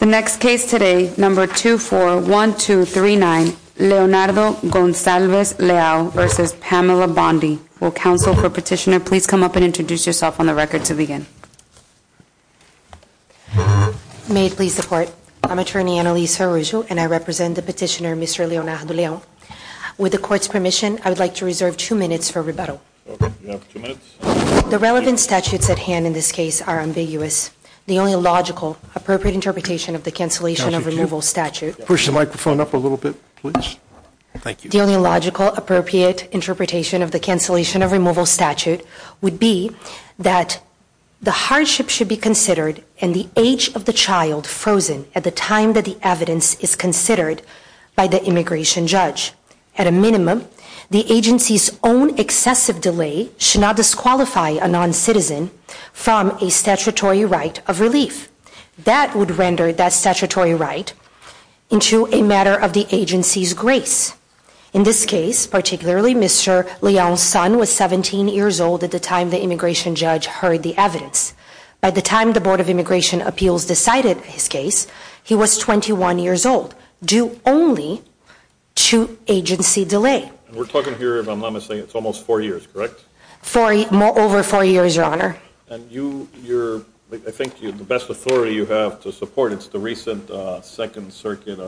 The next case today, number 241239, Leonardo Goncalves Leao v. Pamela Bondi. Will counsel for petitioner please come up and introduce yourself on the record to begin. May it please the court. I'm attorney Annalise Ferrugio and I represent the petitioner, Mr. Leonardo Leao. With the court's permission, I would like to reserve two minutes for rebuttal. The relevant statutes at hand in this case are ambiguous. The only logical appropriate interpretation of the cancellation of removal statute. Push the microphone up a little bit, please. Thank you. The only logical appropriate interpretation of the cancellation of removal statute would be that the hardship should be considered in the age of the child frozen at the time that the evidence is considered by the immigration judge. At a minimum, the agency's own excessive delay should not disqualify a non-citizen from a statutory right of relief. That would render that statutory right into a matter of the agency's grace. In this case, particularly Mr. Leao's son was 17 years old at the time the immigration judge heard the evidence. By the time the Board of Immigration Appeals decided his case, he was 21 years old, due only to agency delay. We're talking here, if I'm not mistaken, it's almost four years, correct? Over four years, Your Honor. And you, I think the best authority you have to support is the recent Second Circuit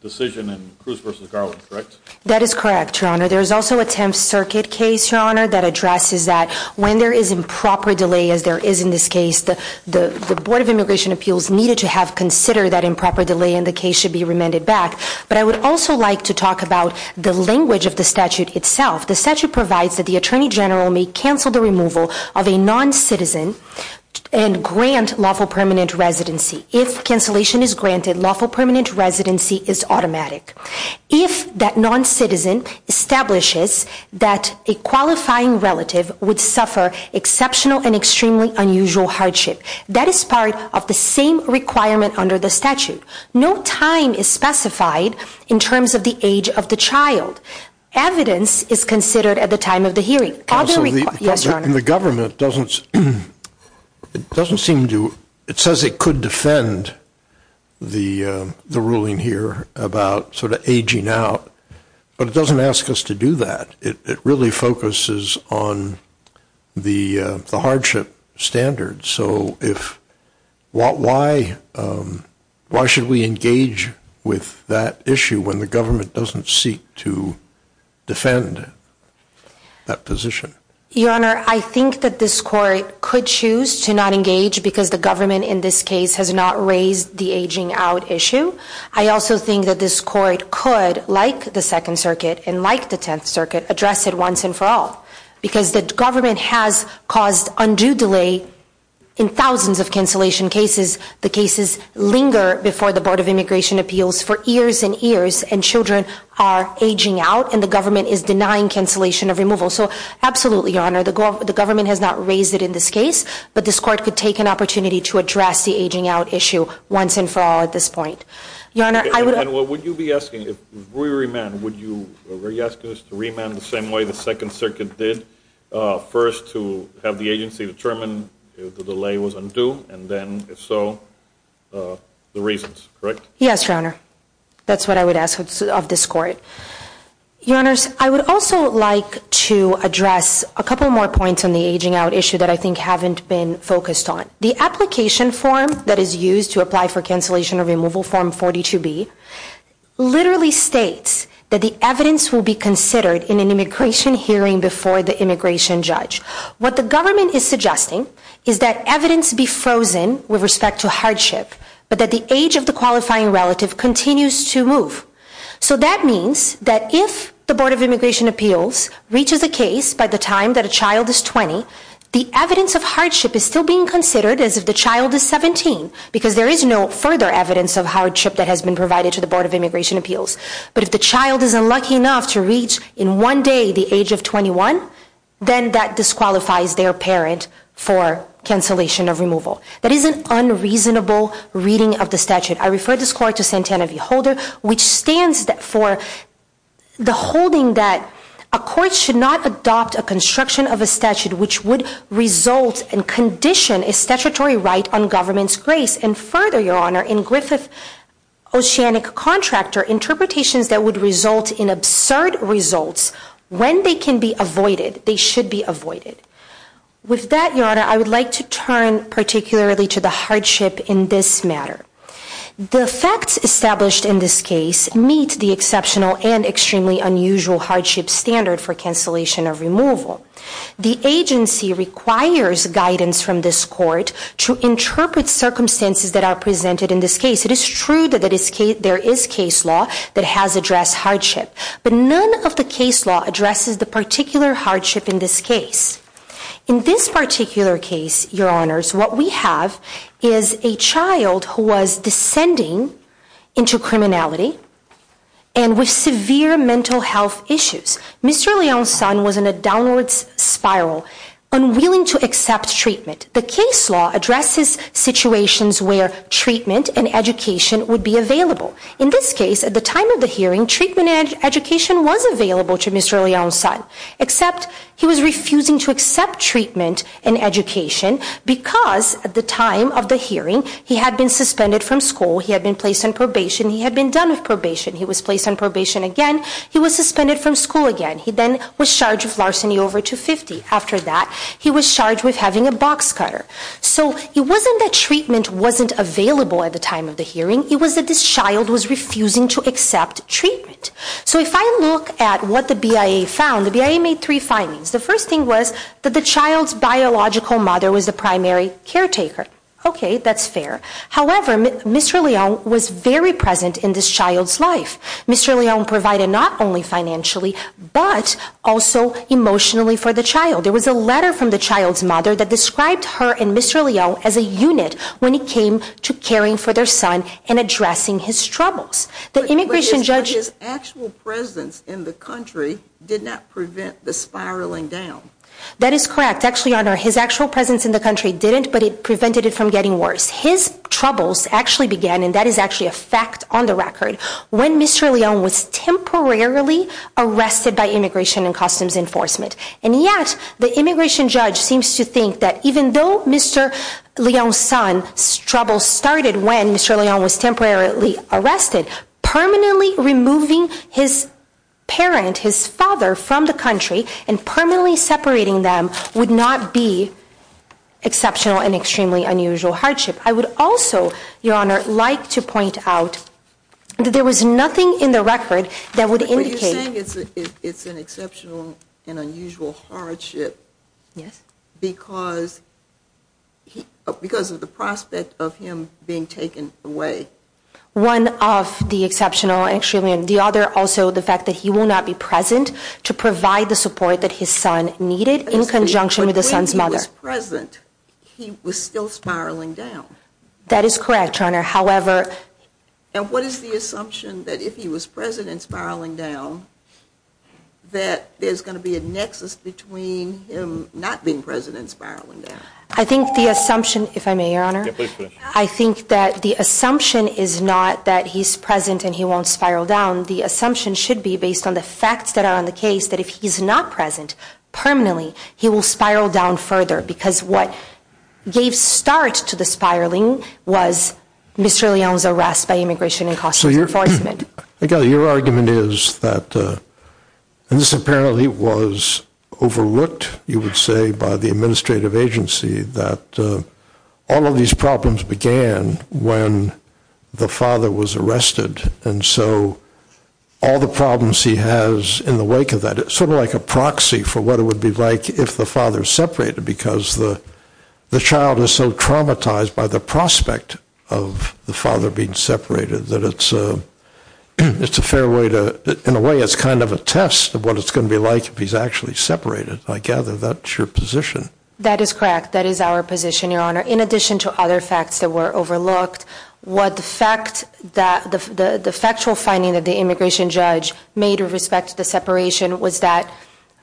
decision in Cruz v. Garland, correct? That is correct, Your Honor. There's also a Tenth Circuit case, Your Honor, that addresses that when there is improper delay, as there is in this case, the Board of Immigration Appeals needed to have considered that improper delay and the case should be remanded back. But I would also like to talk about the language of the statute itself. The statute provides that the Attorney General may cancel the removal of a non-citizen and grant lawful permanent residency. If cancellation is granted, lawful permanent residency is automatic. If that non-citizen establishes that a qualifying relative would suffer exceptional and extremely unusual hardship, that is part of the same requirement under the statute. No time is specified in terms of the age of the child. Evidence is considered at the time of the hearing. Other requirements- Yes, Your Honor. The government doesn't, it doesn't seem to, it says it could defend the ruling here about sort of aging out. But it doesn't ask us to do that. It really focuses on the hardship standards. So if, why should we engage with that issue when the government doesn't seek to defend that position? Your Honor, I think that this court could choose to not engage because the government in this case has not raised the aging out issue. I also think that this court could, like the Second Circuit and like the Tenth Circuit, address it once and for all. Because the government has caused undue delay in thousands of cancellation cases. The cases linger before the Board of Immigration Appeals for years and years. And children are aging out, and the government is denying cancellation of removal. So absolutely, Your Honor, the government has not raised it in this case. But this court could take an opportunity to address the aging out issue once and for all at this point. Your Honor, I would- Your Honor, would you be asking, if we remand, would you be asking us to remand the same way the Second Circuit did? First to have the agency determine if the delay was undue, and then if so, the reasons, correct? Yes, Your Honor. That's what I would ask of this court. Your Honors, I would also like to address a couple more points on the aging out issue that I think haven't been focused on. The application form that is used to apply for cancellation or removal, Form 42B, literally states that the evidence will be considered in an immigration hearing before the immigration judge. What the government is suggesting is that evidence be frozen with respect to hardship, but that the age of the qualifying relative continues to move. So that means that if the Board of Immigration Appeals reaches a case by the time that a child is 20, the evidence of hardship is still being considered as if the child is 17, because there is no further evidence of hardship that has been provided to the Board of Immigration Appeals. But if the child is unlucky enough to reach, in one day, the age of 21, then that disqualifies their parent for cancellation of removal. That is an unreasonable reading of the statute. I refer this court to Santana v. Holder, which stands for the holding that a court should not adopt a construction of a statute which would result and condition a statutory right on government's grace. And further, Your Honor, in Griffith, Oceanic Contractor, interpretations that would result in absurd results, when they can be avoided, they should be avoided. With that, Your Honor, I would like to turn particularly to the hardship in this matter. The facts established in this case meet the exceptional and extremely unusual hardship standard for cancellation of removal. The agency requires guidance from this court to interpret circumstances that are presented in this case. It is true that there is case law that has addressed hardship. But none of the case law addresses the particular hardship in this case. In this particular case, Your Honors, what we have is a child who was descending into criminality and with severe mental health issues. Mr. Leon's son was in a downward spiral, unwilling to accept treatment. The case law addresses situations where treatment and education would be available. In this case, at the time of the hearing, treatment and education was available to Mr. Leon's son. Except he was refusing to accept treatment and education because at the time of the hearing, he had been suspended from school, he had been placed on probation, he had been done with probation, he was placed on probation again. He was suspended from school again. He then was charged with larceny over 250. After that, he was charged with having a box cutter. So it wasn't that treatment wasn't available at the time of the hearing, it was that this child was refusing to accept treatment. So if I look at what the BIA found, the BIA made three findings. The first thing was that the child's biological mother was the primary caretaker. Okay, that's fair. However, Mr. Leon was very present in this child's life. Mr. Leon provided not only financially, but also emotionally for the child. There was a letter from the child's mother that described her and Mr. Leon as a unit when it came to caring for their son and addressing his troubles. The immigration judge- But his actual presence in the country did not prevent the spiraling down. That is correct. Actually, Your Honor, his actual presence in the country didn't, but it prevented it from getting worse. His troubles actually began, and that is actually a fact on the record. When Mr. Leon was temporarily arrested by Immigration and Customs Enforcement. And yet, the immigration judge seems to think that even though Mr. Leon's son's troubles started when Mr. Leon was temporarily arrested, permanently removing his parent, his father from the country, and permanently separating them would not be exceptional and extremely unusual hardship. I would also, Your Honor, like to point out that there was nothing in the record that would indicate- But you're saying it's an exceptional and unusual hardship because of the prospect of him being taken away. One of the exceptional and the other also the fact that he will not be present to provide the support that his son needed in conjunction with his son's mother. If he was present, he was still spiraling down. That is correct, Your Honor, however- And what is the assumption that if he was present and spiraling down, that there's going to be a nexus between him not being present and spiraling down? I think the assumption, if I may, Your Honor, I think that the assumption is not that he's present and he won't spiral down. The assumption should be based on the facts that are on the case that if he's not present permanently, he will spiral down further. Because what gave start to the spiraling was Mr. Leon's arrest by Immigration and Customs Enforcement. Again, your argument is that this apparently was overlooked, you would say, by the administrative agency that all of these problems began when the father was arrested. And so all the problems he has in the wake of that, it's sort of like a proxy for what it would be like if the father separated. Because the child is so traumatized by the prospect of the father being separated that it's a fair way to, in a way, it's kind of a test of what it's going to be like if he's actually separated. I gather that's your position. That is correct. That is our position, Your Honor. In addition to other facts that were overlooked, the factual finding that the immigration judge made with respect to the separation was that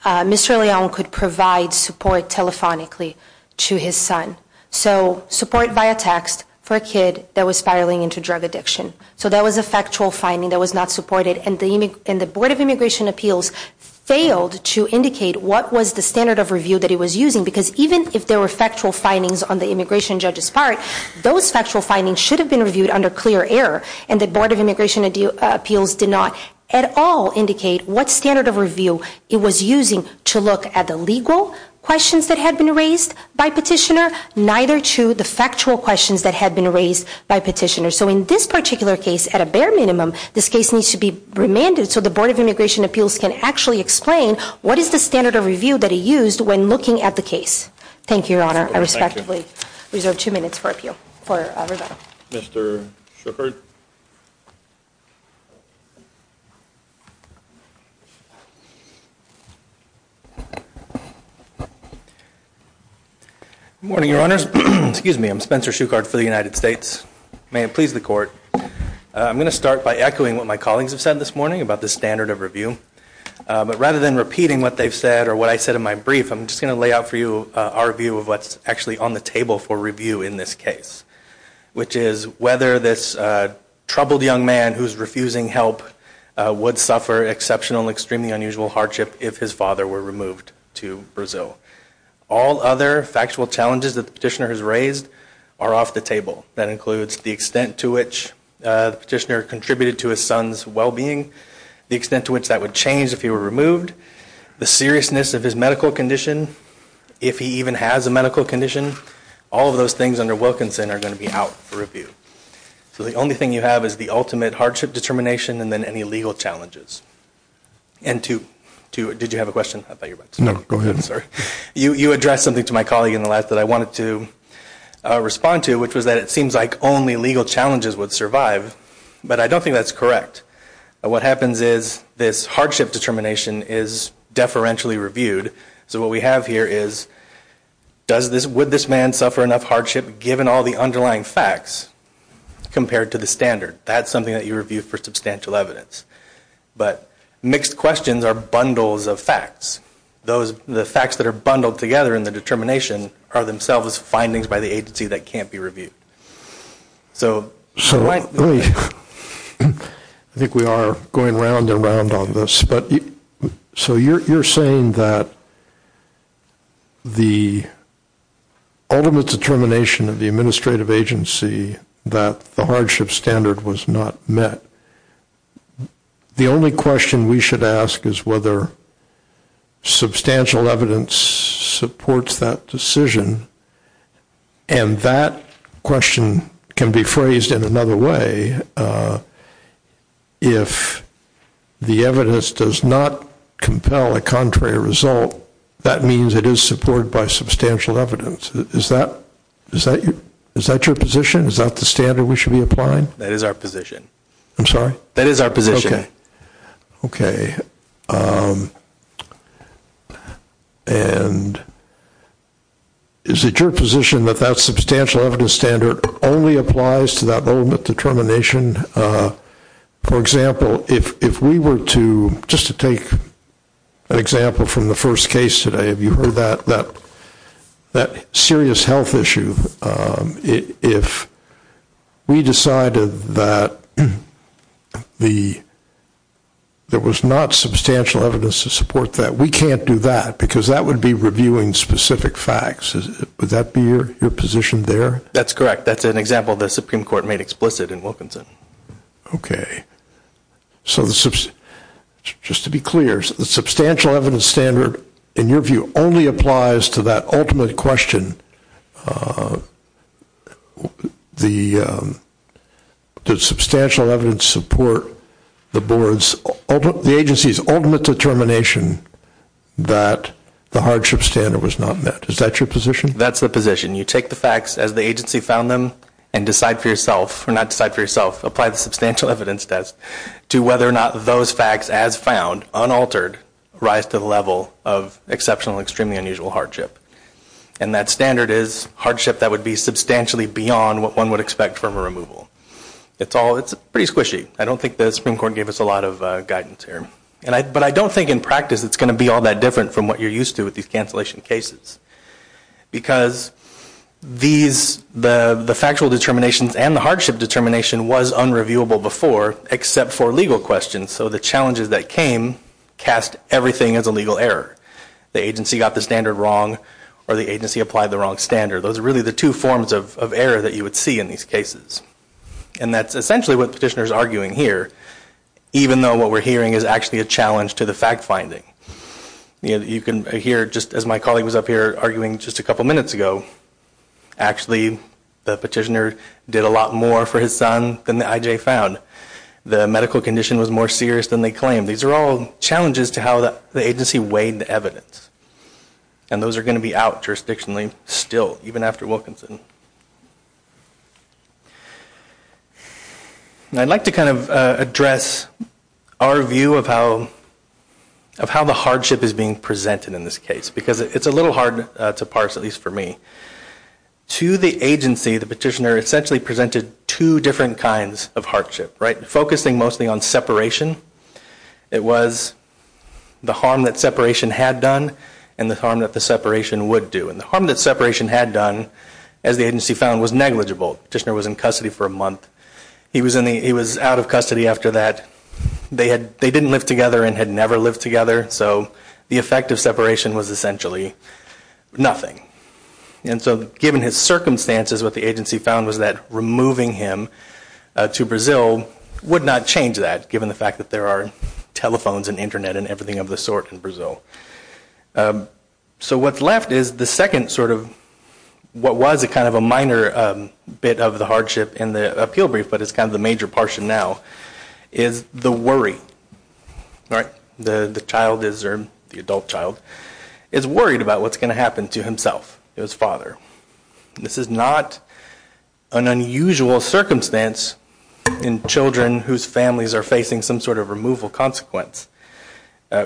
Mr. Leon could provide support telephonically to his son. So support via text for a kid that was spiraling into drug addiction. So that was a factual finding that was not supported. And the Board of Immigration Appeals failed to indicate what was the standard of review that it was using. Because even if there were factual findings on the immigration judge's part, those factual findings should have been reviewed under clear error. And the Board of Immigration Appeals did not at all indicate what standard of review it was using to look at the legal questions that had been raised by petitioner, neither to the factual questions that had been raised by petitioner. So in this particular case, at a bare minimum, this case needs to be remanded so the Board of Immigration Appeals can actually explain what is the standard of review that it used when looking at the case. Thank you, Your Honor. I respectively reserve two minutes for appeal for rebuttal. Mr. Schuchard. Good morning, Your Honors. Excuse me. I'm Spencer Schuchard for the United States. May it please the Court. I'm going to start by echoing what my colleagues have said this morning about the standard of review. But rather than repeating what they've said or what I said in my brief, I'm just going to lay out for you our view of what's actually on the table for review in this case, which is whether this troubled young man who's refusing help would suffer exceptional and extremely unusual hardship if his father were removed to Brazil. All other factual challenges that the petitioner has raised are off the table. That includes the extent to which the petitioner contributed to his son's well-being, the extent to which that would change if he were removed, the seriousness of his medical condition, if he even has a medical condition. All of those things under Wilkinson are going to be out for review. So the only thing you have is the ultimate hardship determination and then any legal challenges. And to, did you have a question? I thought you were about to. No, go ahead. I'm sorry. You addressed something to my colleague in the last that I wanted to respond to, which was that it seems like only legal challenges would survive. But I don't think that's correct. What happens is this hardship determination is deferentially reviewed. So what we have here is does this, would this man suffer enough hardship given all the underlying facts compared to the standard? That's something that you review for substantial evidence. But mixed questions are bundles of facts. Those, the facts that are bundled together in the determination are themselves findings by the agency that can't be reviewed. So. So I think we are going round and round on this. But so you're saying that the ultimate determination of the administrative agency that the hardship standard was not met. The only question we should ask is whether substantial evidence supports that decision. And that question can be phrased in another way. If the evidence does not compel a contrary result, that means it is supported by substantial evidence. Is that, is that your position? Is that the standard we should be applying? That is our position. I'm sorry? That is our position. Okay. Okay. And is it your position that that substantial evidence standard only applies to that ultimate determination? For example, if we were to, just to take an example from the first case today, have you heard that, that serious health issue? If we decided that the, there was not substantial evidence to support that, we can't do that. Because that would be reviewing specific facts. Would that be your position there? That's correct. That's an example the Supreme Court made explicit in Wilkinson. Okay. So the, just to be clear, the substantial evidence standard, in your view, only applies to that ultimate question, the substantial evidence support the board's, the agency's ultimate determination that the hardship standard was not met. Is that your position? That's the position. You take the facts as the agency found them and decide for yourself, or not decide for yourself, apply the substantial evidence test to whether or not those facts as found, unaltered, rise to the level of exceptional, extremely unusual hardship. And that standard is hardship that would be substantially beyond what one would expect from a removal. It's all, it's pretty squishy. I don't think the Supreme Court gave us a lot of guidance here. And I, but I don't think in practice it's going to be all that different from what you're used to with these cancellation cases. Because these, the factual determinations and the hardship determination was unreviewable before, except for legal questions. So the challenges that came cast everything as a legal error. The agency got the standard wrong, or the agency applied the wrong standard. Those are really the two forms of error that you would see in these cases. And that's essentially what the petitioner's arguing here, even though what we're hearing is actually a challenge to the fact finding. You know, you can hear, just as my colleague was up here arguing just a couple minutes ago, actually the petitioner did a lot more for his son than the IJ found. The medical condition was more serious than they claimed. These are all challenges to how the agency weighed the evidence. And those are going to be out jurisdictionally still, even after Wilkinson. And I'd like to kind of address our view of how, of how the hardship is being presented in this case. Because it's a little hard to parse, at least for me. To the agency, the petitioner essentially presented two different kinds of hardship, right? Focusing mostly on separation. It was the harm that separation had done, and the harm that the separation would do. And the harm that separation had done, as the agency found, was negligible. Petitioner was in custody for a month. He was in the, he was out of custody after that. They had, they didn't live together and had never lived together. So the effect of separation was essentially nothing. And so given his circumstances, what the agency found was that removing him to Brazil would not change that, given the fact that there are telephones and internet and everything of the sort in Brazil. So what's left is the second sort of, what was a kind of a minor bit of the hardship in the appeal brief, but it's kind of the major portion now, is the worry, right? The child is, or the adult child, is worried about what's going to happen to himself, his father. This is not an unusual circumstance in children whose families are facing some sort of removal consequence.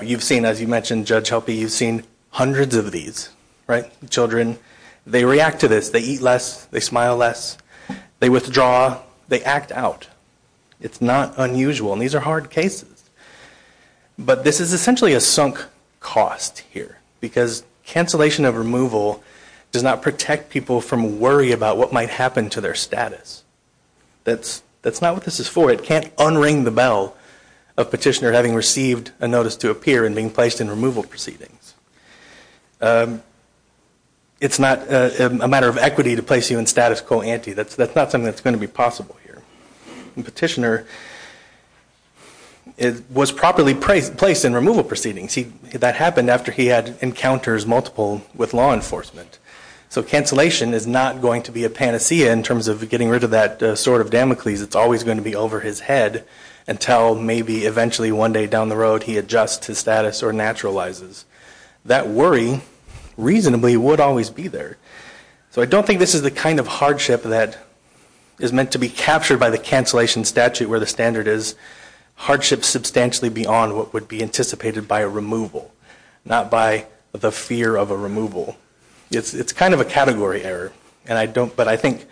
You've seen, as you mentioned, Judge Helpe, you've seen hundreds of these, right? Children, they react to this. They eat less. They smile less. They withdraw. They act out. It's not unusual. And these are hard cases. But this is essentially a sunk cost here. Because cancellation of removal does not protect people from worry about what might happen to their status. That's not what this is for. It can't unring the bell of petitioner having received a notice to appear and being placed in removal proceedings. It's not a matter of equity to place you in status quo ante. That's not something that's going to be possible here. And petitioner was properly placed in removal proceedings. That happened after he had encounters multiple with law enforcement. So cancellation is not going to be a panacea in terms of getting rid of that sort of Damocles. It's always going to be over his head until maybe eventually one day down the road he adjusts his status or naturalizes. That worry reasonably would always be there. So I don't think this is the kind of hardship that is meant to be captured by the cancellation statute where the standard is. Hardship substantially beyond what would be anticipated by a removal. Not by the fear of a removal. It's kind of a category error. And I don't, but I think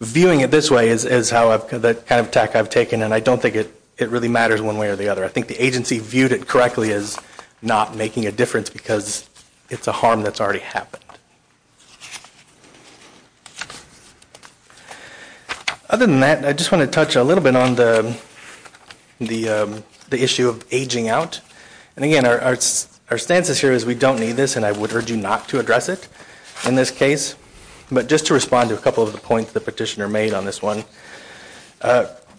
viewing it this way is how I've, that kind of attack I've taken. And I don't think it really matters one way or the other. I think the agency viewed it correctly as not making a difference because it's a harm that's already happened. Other than that, I just want to touch a little bit on the issue of aging out. And again, our stances here is we don't need this and I would urge you not to address it in this case. But just to respond to a couple of the points the petitioner made on this one.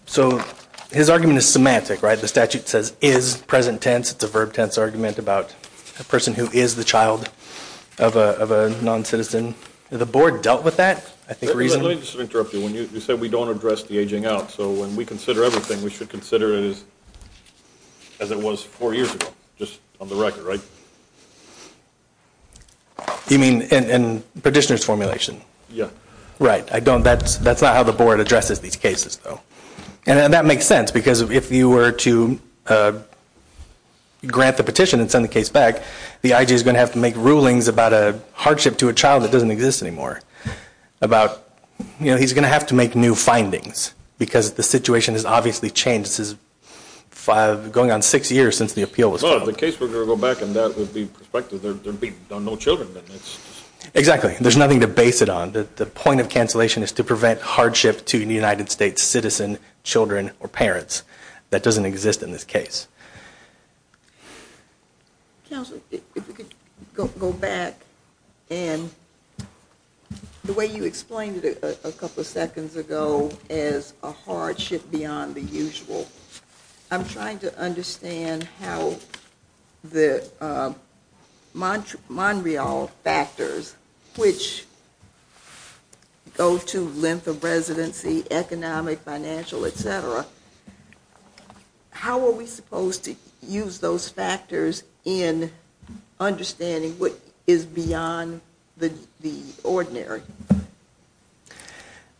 So his argument is semantic, right? The statute says is present tense. It's a verb tense argument about a person who is the child of a non-citizen. The board dealt with that, I think, recently. Let me just interrupt you. When you said we don't address the aging out. So when we consider everything, we should consider it as it was four years ago, just on the record, right? You mean in petitioner's formulation? Yeah. Right. I don't, that's not how the board addresses these cases, though. And that makes sense because if you were to grant the petition and send the case back, the IG is going to have to make rulings about a hardship to a child that doesn't exist anymore. About, you know, he's going to have to make new findings. Because the situation has obviously changed. This is going on six years since the appeal was filed. Well, if the case were to go back and that would be prospective, there'd be no children then. Exactly. There's nothing to base it on. The point of cancellation is to prevent hardship to the United States citizen, children, or parents. That doesn't exist in this case. Counselor, if we could go back and the way you explained it a couple of seconds ago as a hardship beyond the usual. I'm trying to understand how the Montreal factors, which go to length of residency, economic, financial, etc. How are we supposed to use those factors in understanding what is beyond the ordinary?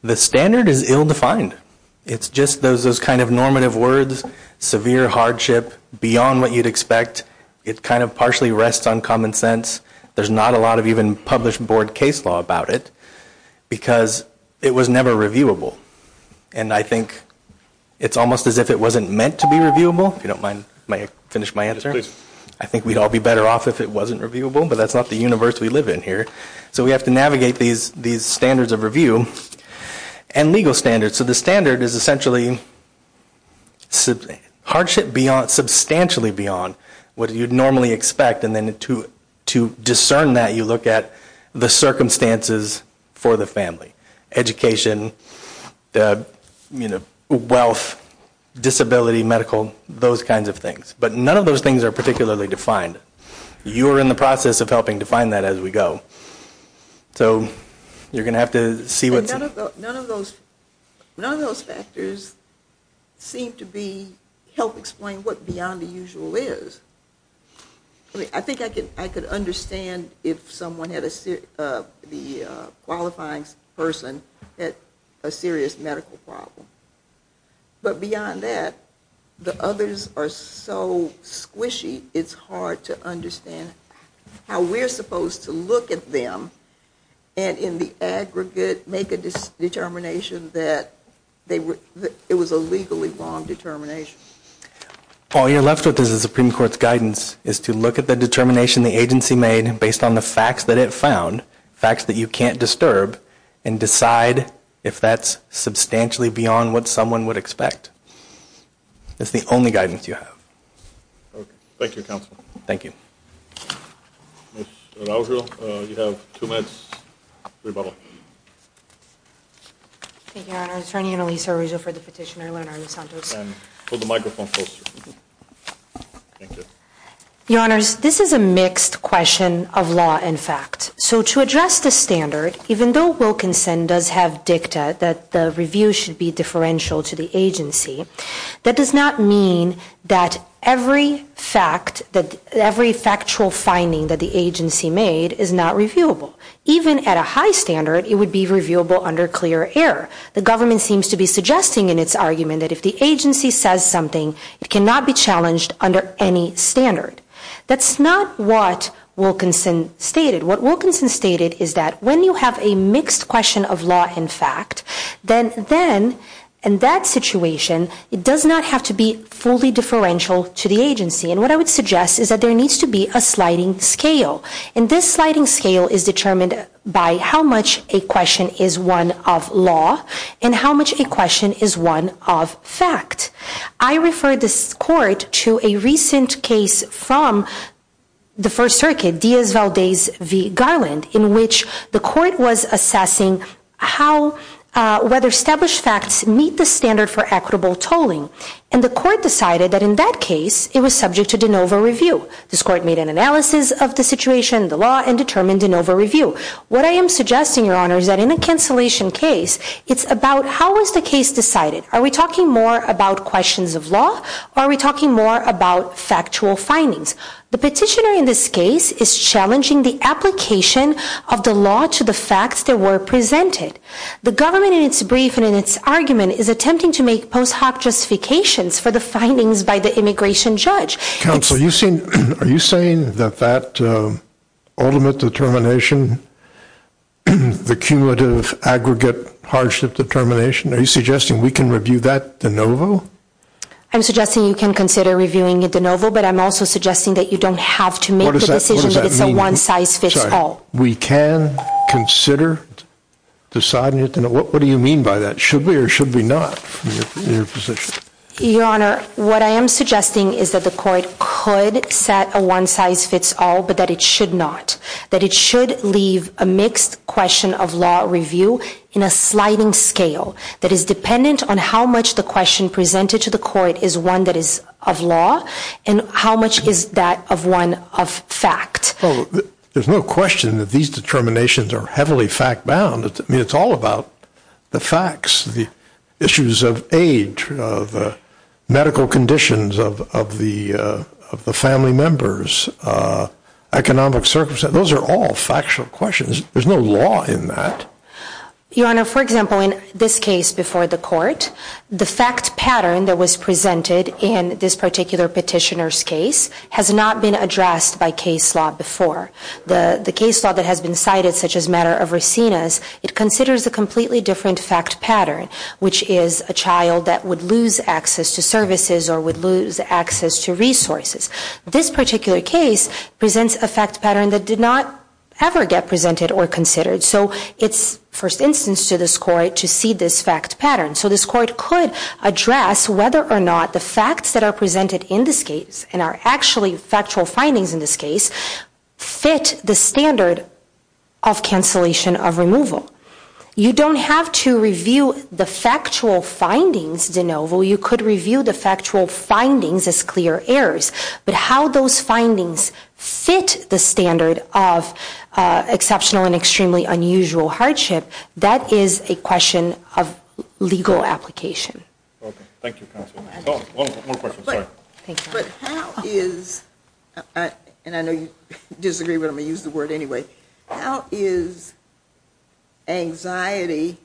The standard is ill-defined. It's just those kind of normative words, severe hardship, beyond what you'd expect. It kind of partially rests on common sense. There's not a lot of even published board case law about it, because it was never reviewable. And I think it's almost as if it wasn't meant to be reviewable, if you don't mind, may I finish my answer? Yes, please. I think we'd all be better off if it wasn't reviewable, but that's not the universe we live in here. So we have to navigate these standards of review and legal standards. So the standard is essentially hardship substantially beyond what you'd normally expect. And then to discern that, you look at the circumstances for the family, education, wealth, disability, medical, those kinds of things. But none of those things are particularly defined. You are in the process of helping define that as we go. So you're going to have to see what's- None of those factors seem to be- help explain what beyond the usual is. I think I could understand if someone had a- the qualifying person had a serious medical problem. But beyond that, the others are so squishy, it's hard to understand how we're supposed to look at them and in the aggregate make a determination that it was a legally wrong determination. All you're left with is the Supreme Court's guidance is to look at the determination the agency made based on the facts that it found, facts that you can't disturb, and decide if that's substantially beyond what someone would expect. That's the only guidance you have. Thank you, Counselor. Thank you. Ms. Araujo, you have two minutes, rebuttal. Thank you, Your Honor. Attorney Annalisa Araujo for the petitioner, Lerner and Santos. And hold the microphone closer. Thank you. Your Honors, this is a mixed question of law and fact. So to address the standard, even though Wilkinson does have dicta that the review should be differential to the agency, that does not mean that every factual finding that the agency made is not reviewable. Even at a high standard, it would be reviewable under clear error. The government seems to be suggesting in its argument that if the agency says something, it cannot be challenged under any standard. That's not what Wilkinson stated. What Wilkinson stated is that when you have a mixed question of law and fact, then in that situation, it does not have to be fully differential to the agency. And what I would suggest is that there needs to be a sliding scale. And this sliding scale is determined by how much a question is one of law and how much a question is one of fact. I refer this court to a recent case from the First Circuit, Diaz-Valdez v. Garland, in which the court was assessing whether established facts meet the standard for equitable tolling. And the court decided that in that case, it was subject to de novo review. This court made an analysis of the situation, the law, and determined de novo review. What I am suggesting, Your Honors, that in a cancellation case, it's about how was the case decided. Are we talking more about questions of law or are we talking more about factual findings? The petitioner in this case is challenging the application of the law to the facts that were presented. The government, in its brief and in its argument, is attempting to make post hoc justifications for the findings by the immigration judge. Counsel, are you saying that that ultimate determination, the cumulative aggregate hardship determination, are you suggesting we can review that de novo? I'm suggesting you can consider reviewing it de novo, but I'm also suggesting that you don't have to make the decision that it's a one-size-fits-all. We can consider deciding it de novo. What do you mean by that? Should we or should we not? Your Honor, what I am suggesting is that the court could set a one-size-fits-all, but that it should not. That it should leave a mixed question of law review in a sliding scale that is dependent on how much the question presented to the court is one that is of law and how much is that of one of fact. There's no question that these determinations are heavily fact-bound. I mean, it's all about the facts, the issues of age, the medical conditions of the family members, economic circumstances. Those are all factual questions. There's no law in that. Your Honor, for example, in this case before the court, the fact pattern that was presented in this particular petitioner's case has not been addressed by case law before. The case law that has been cited, such as matter of racinas, it considers a completely different fact pattern, which is a child that would lose access to services or would lose access to resources. This particular case presents a fact pattern that did not ever get presented or considered. So it's first instance to this court to see this fact pattern. So this court could address whether or not the facts that are presented in this case and are actually factual findings in this case fit the standard of cancellation of removal. You don't have to review the factual findings, DeNovo. You could review the factual findings as clear errors. But how those findings fit the standard of exceptional and extremely unusual hardship, that is a question of legal application. Okay. Thank you, Counsel. One more question. Sorry. But how is, and I know you disagree, but I'm going to use the word anyway, how is anxiety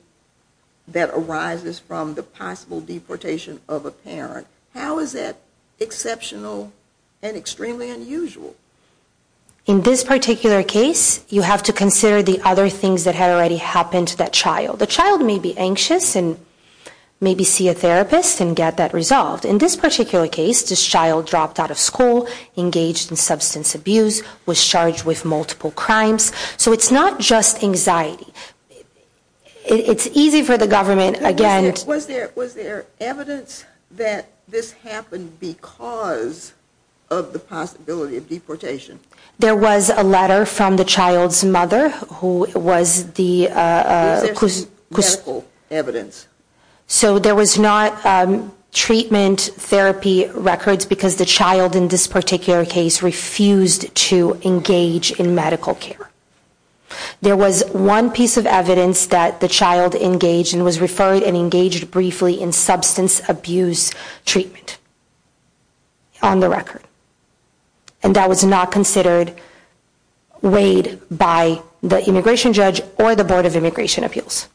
that arises from the possible deportation of a parent, how is that exceptional and extremely unusual? In this particular case, you have to consider the other things that had already happened to that child. The child may be anxious and maybe see a therapist and get that resolved. In this particular case, this child dropped out of school, engaged in substance abuse, was charged with multiple crimes. So it's not just anxiety. It's easy for the government, again. Was there evidence that this happened because of the possibility of deportation? There was a letter from the child's mother who was the Was there some medical evidence? So there was not treatment, therapy records because the child in this particular case refused to engage in medical care. There was one piece of evidence that the child engaged and was referred and engaged briefly in substance abuse treatment on the record. And that was not considered weighed by the immigration judge or the Board of Immigration Appeals.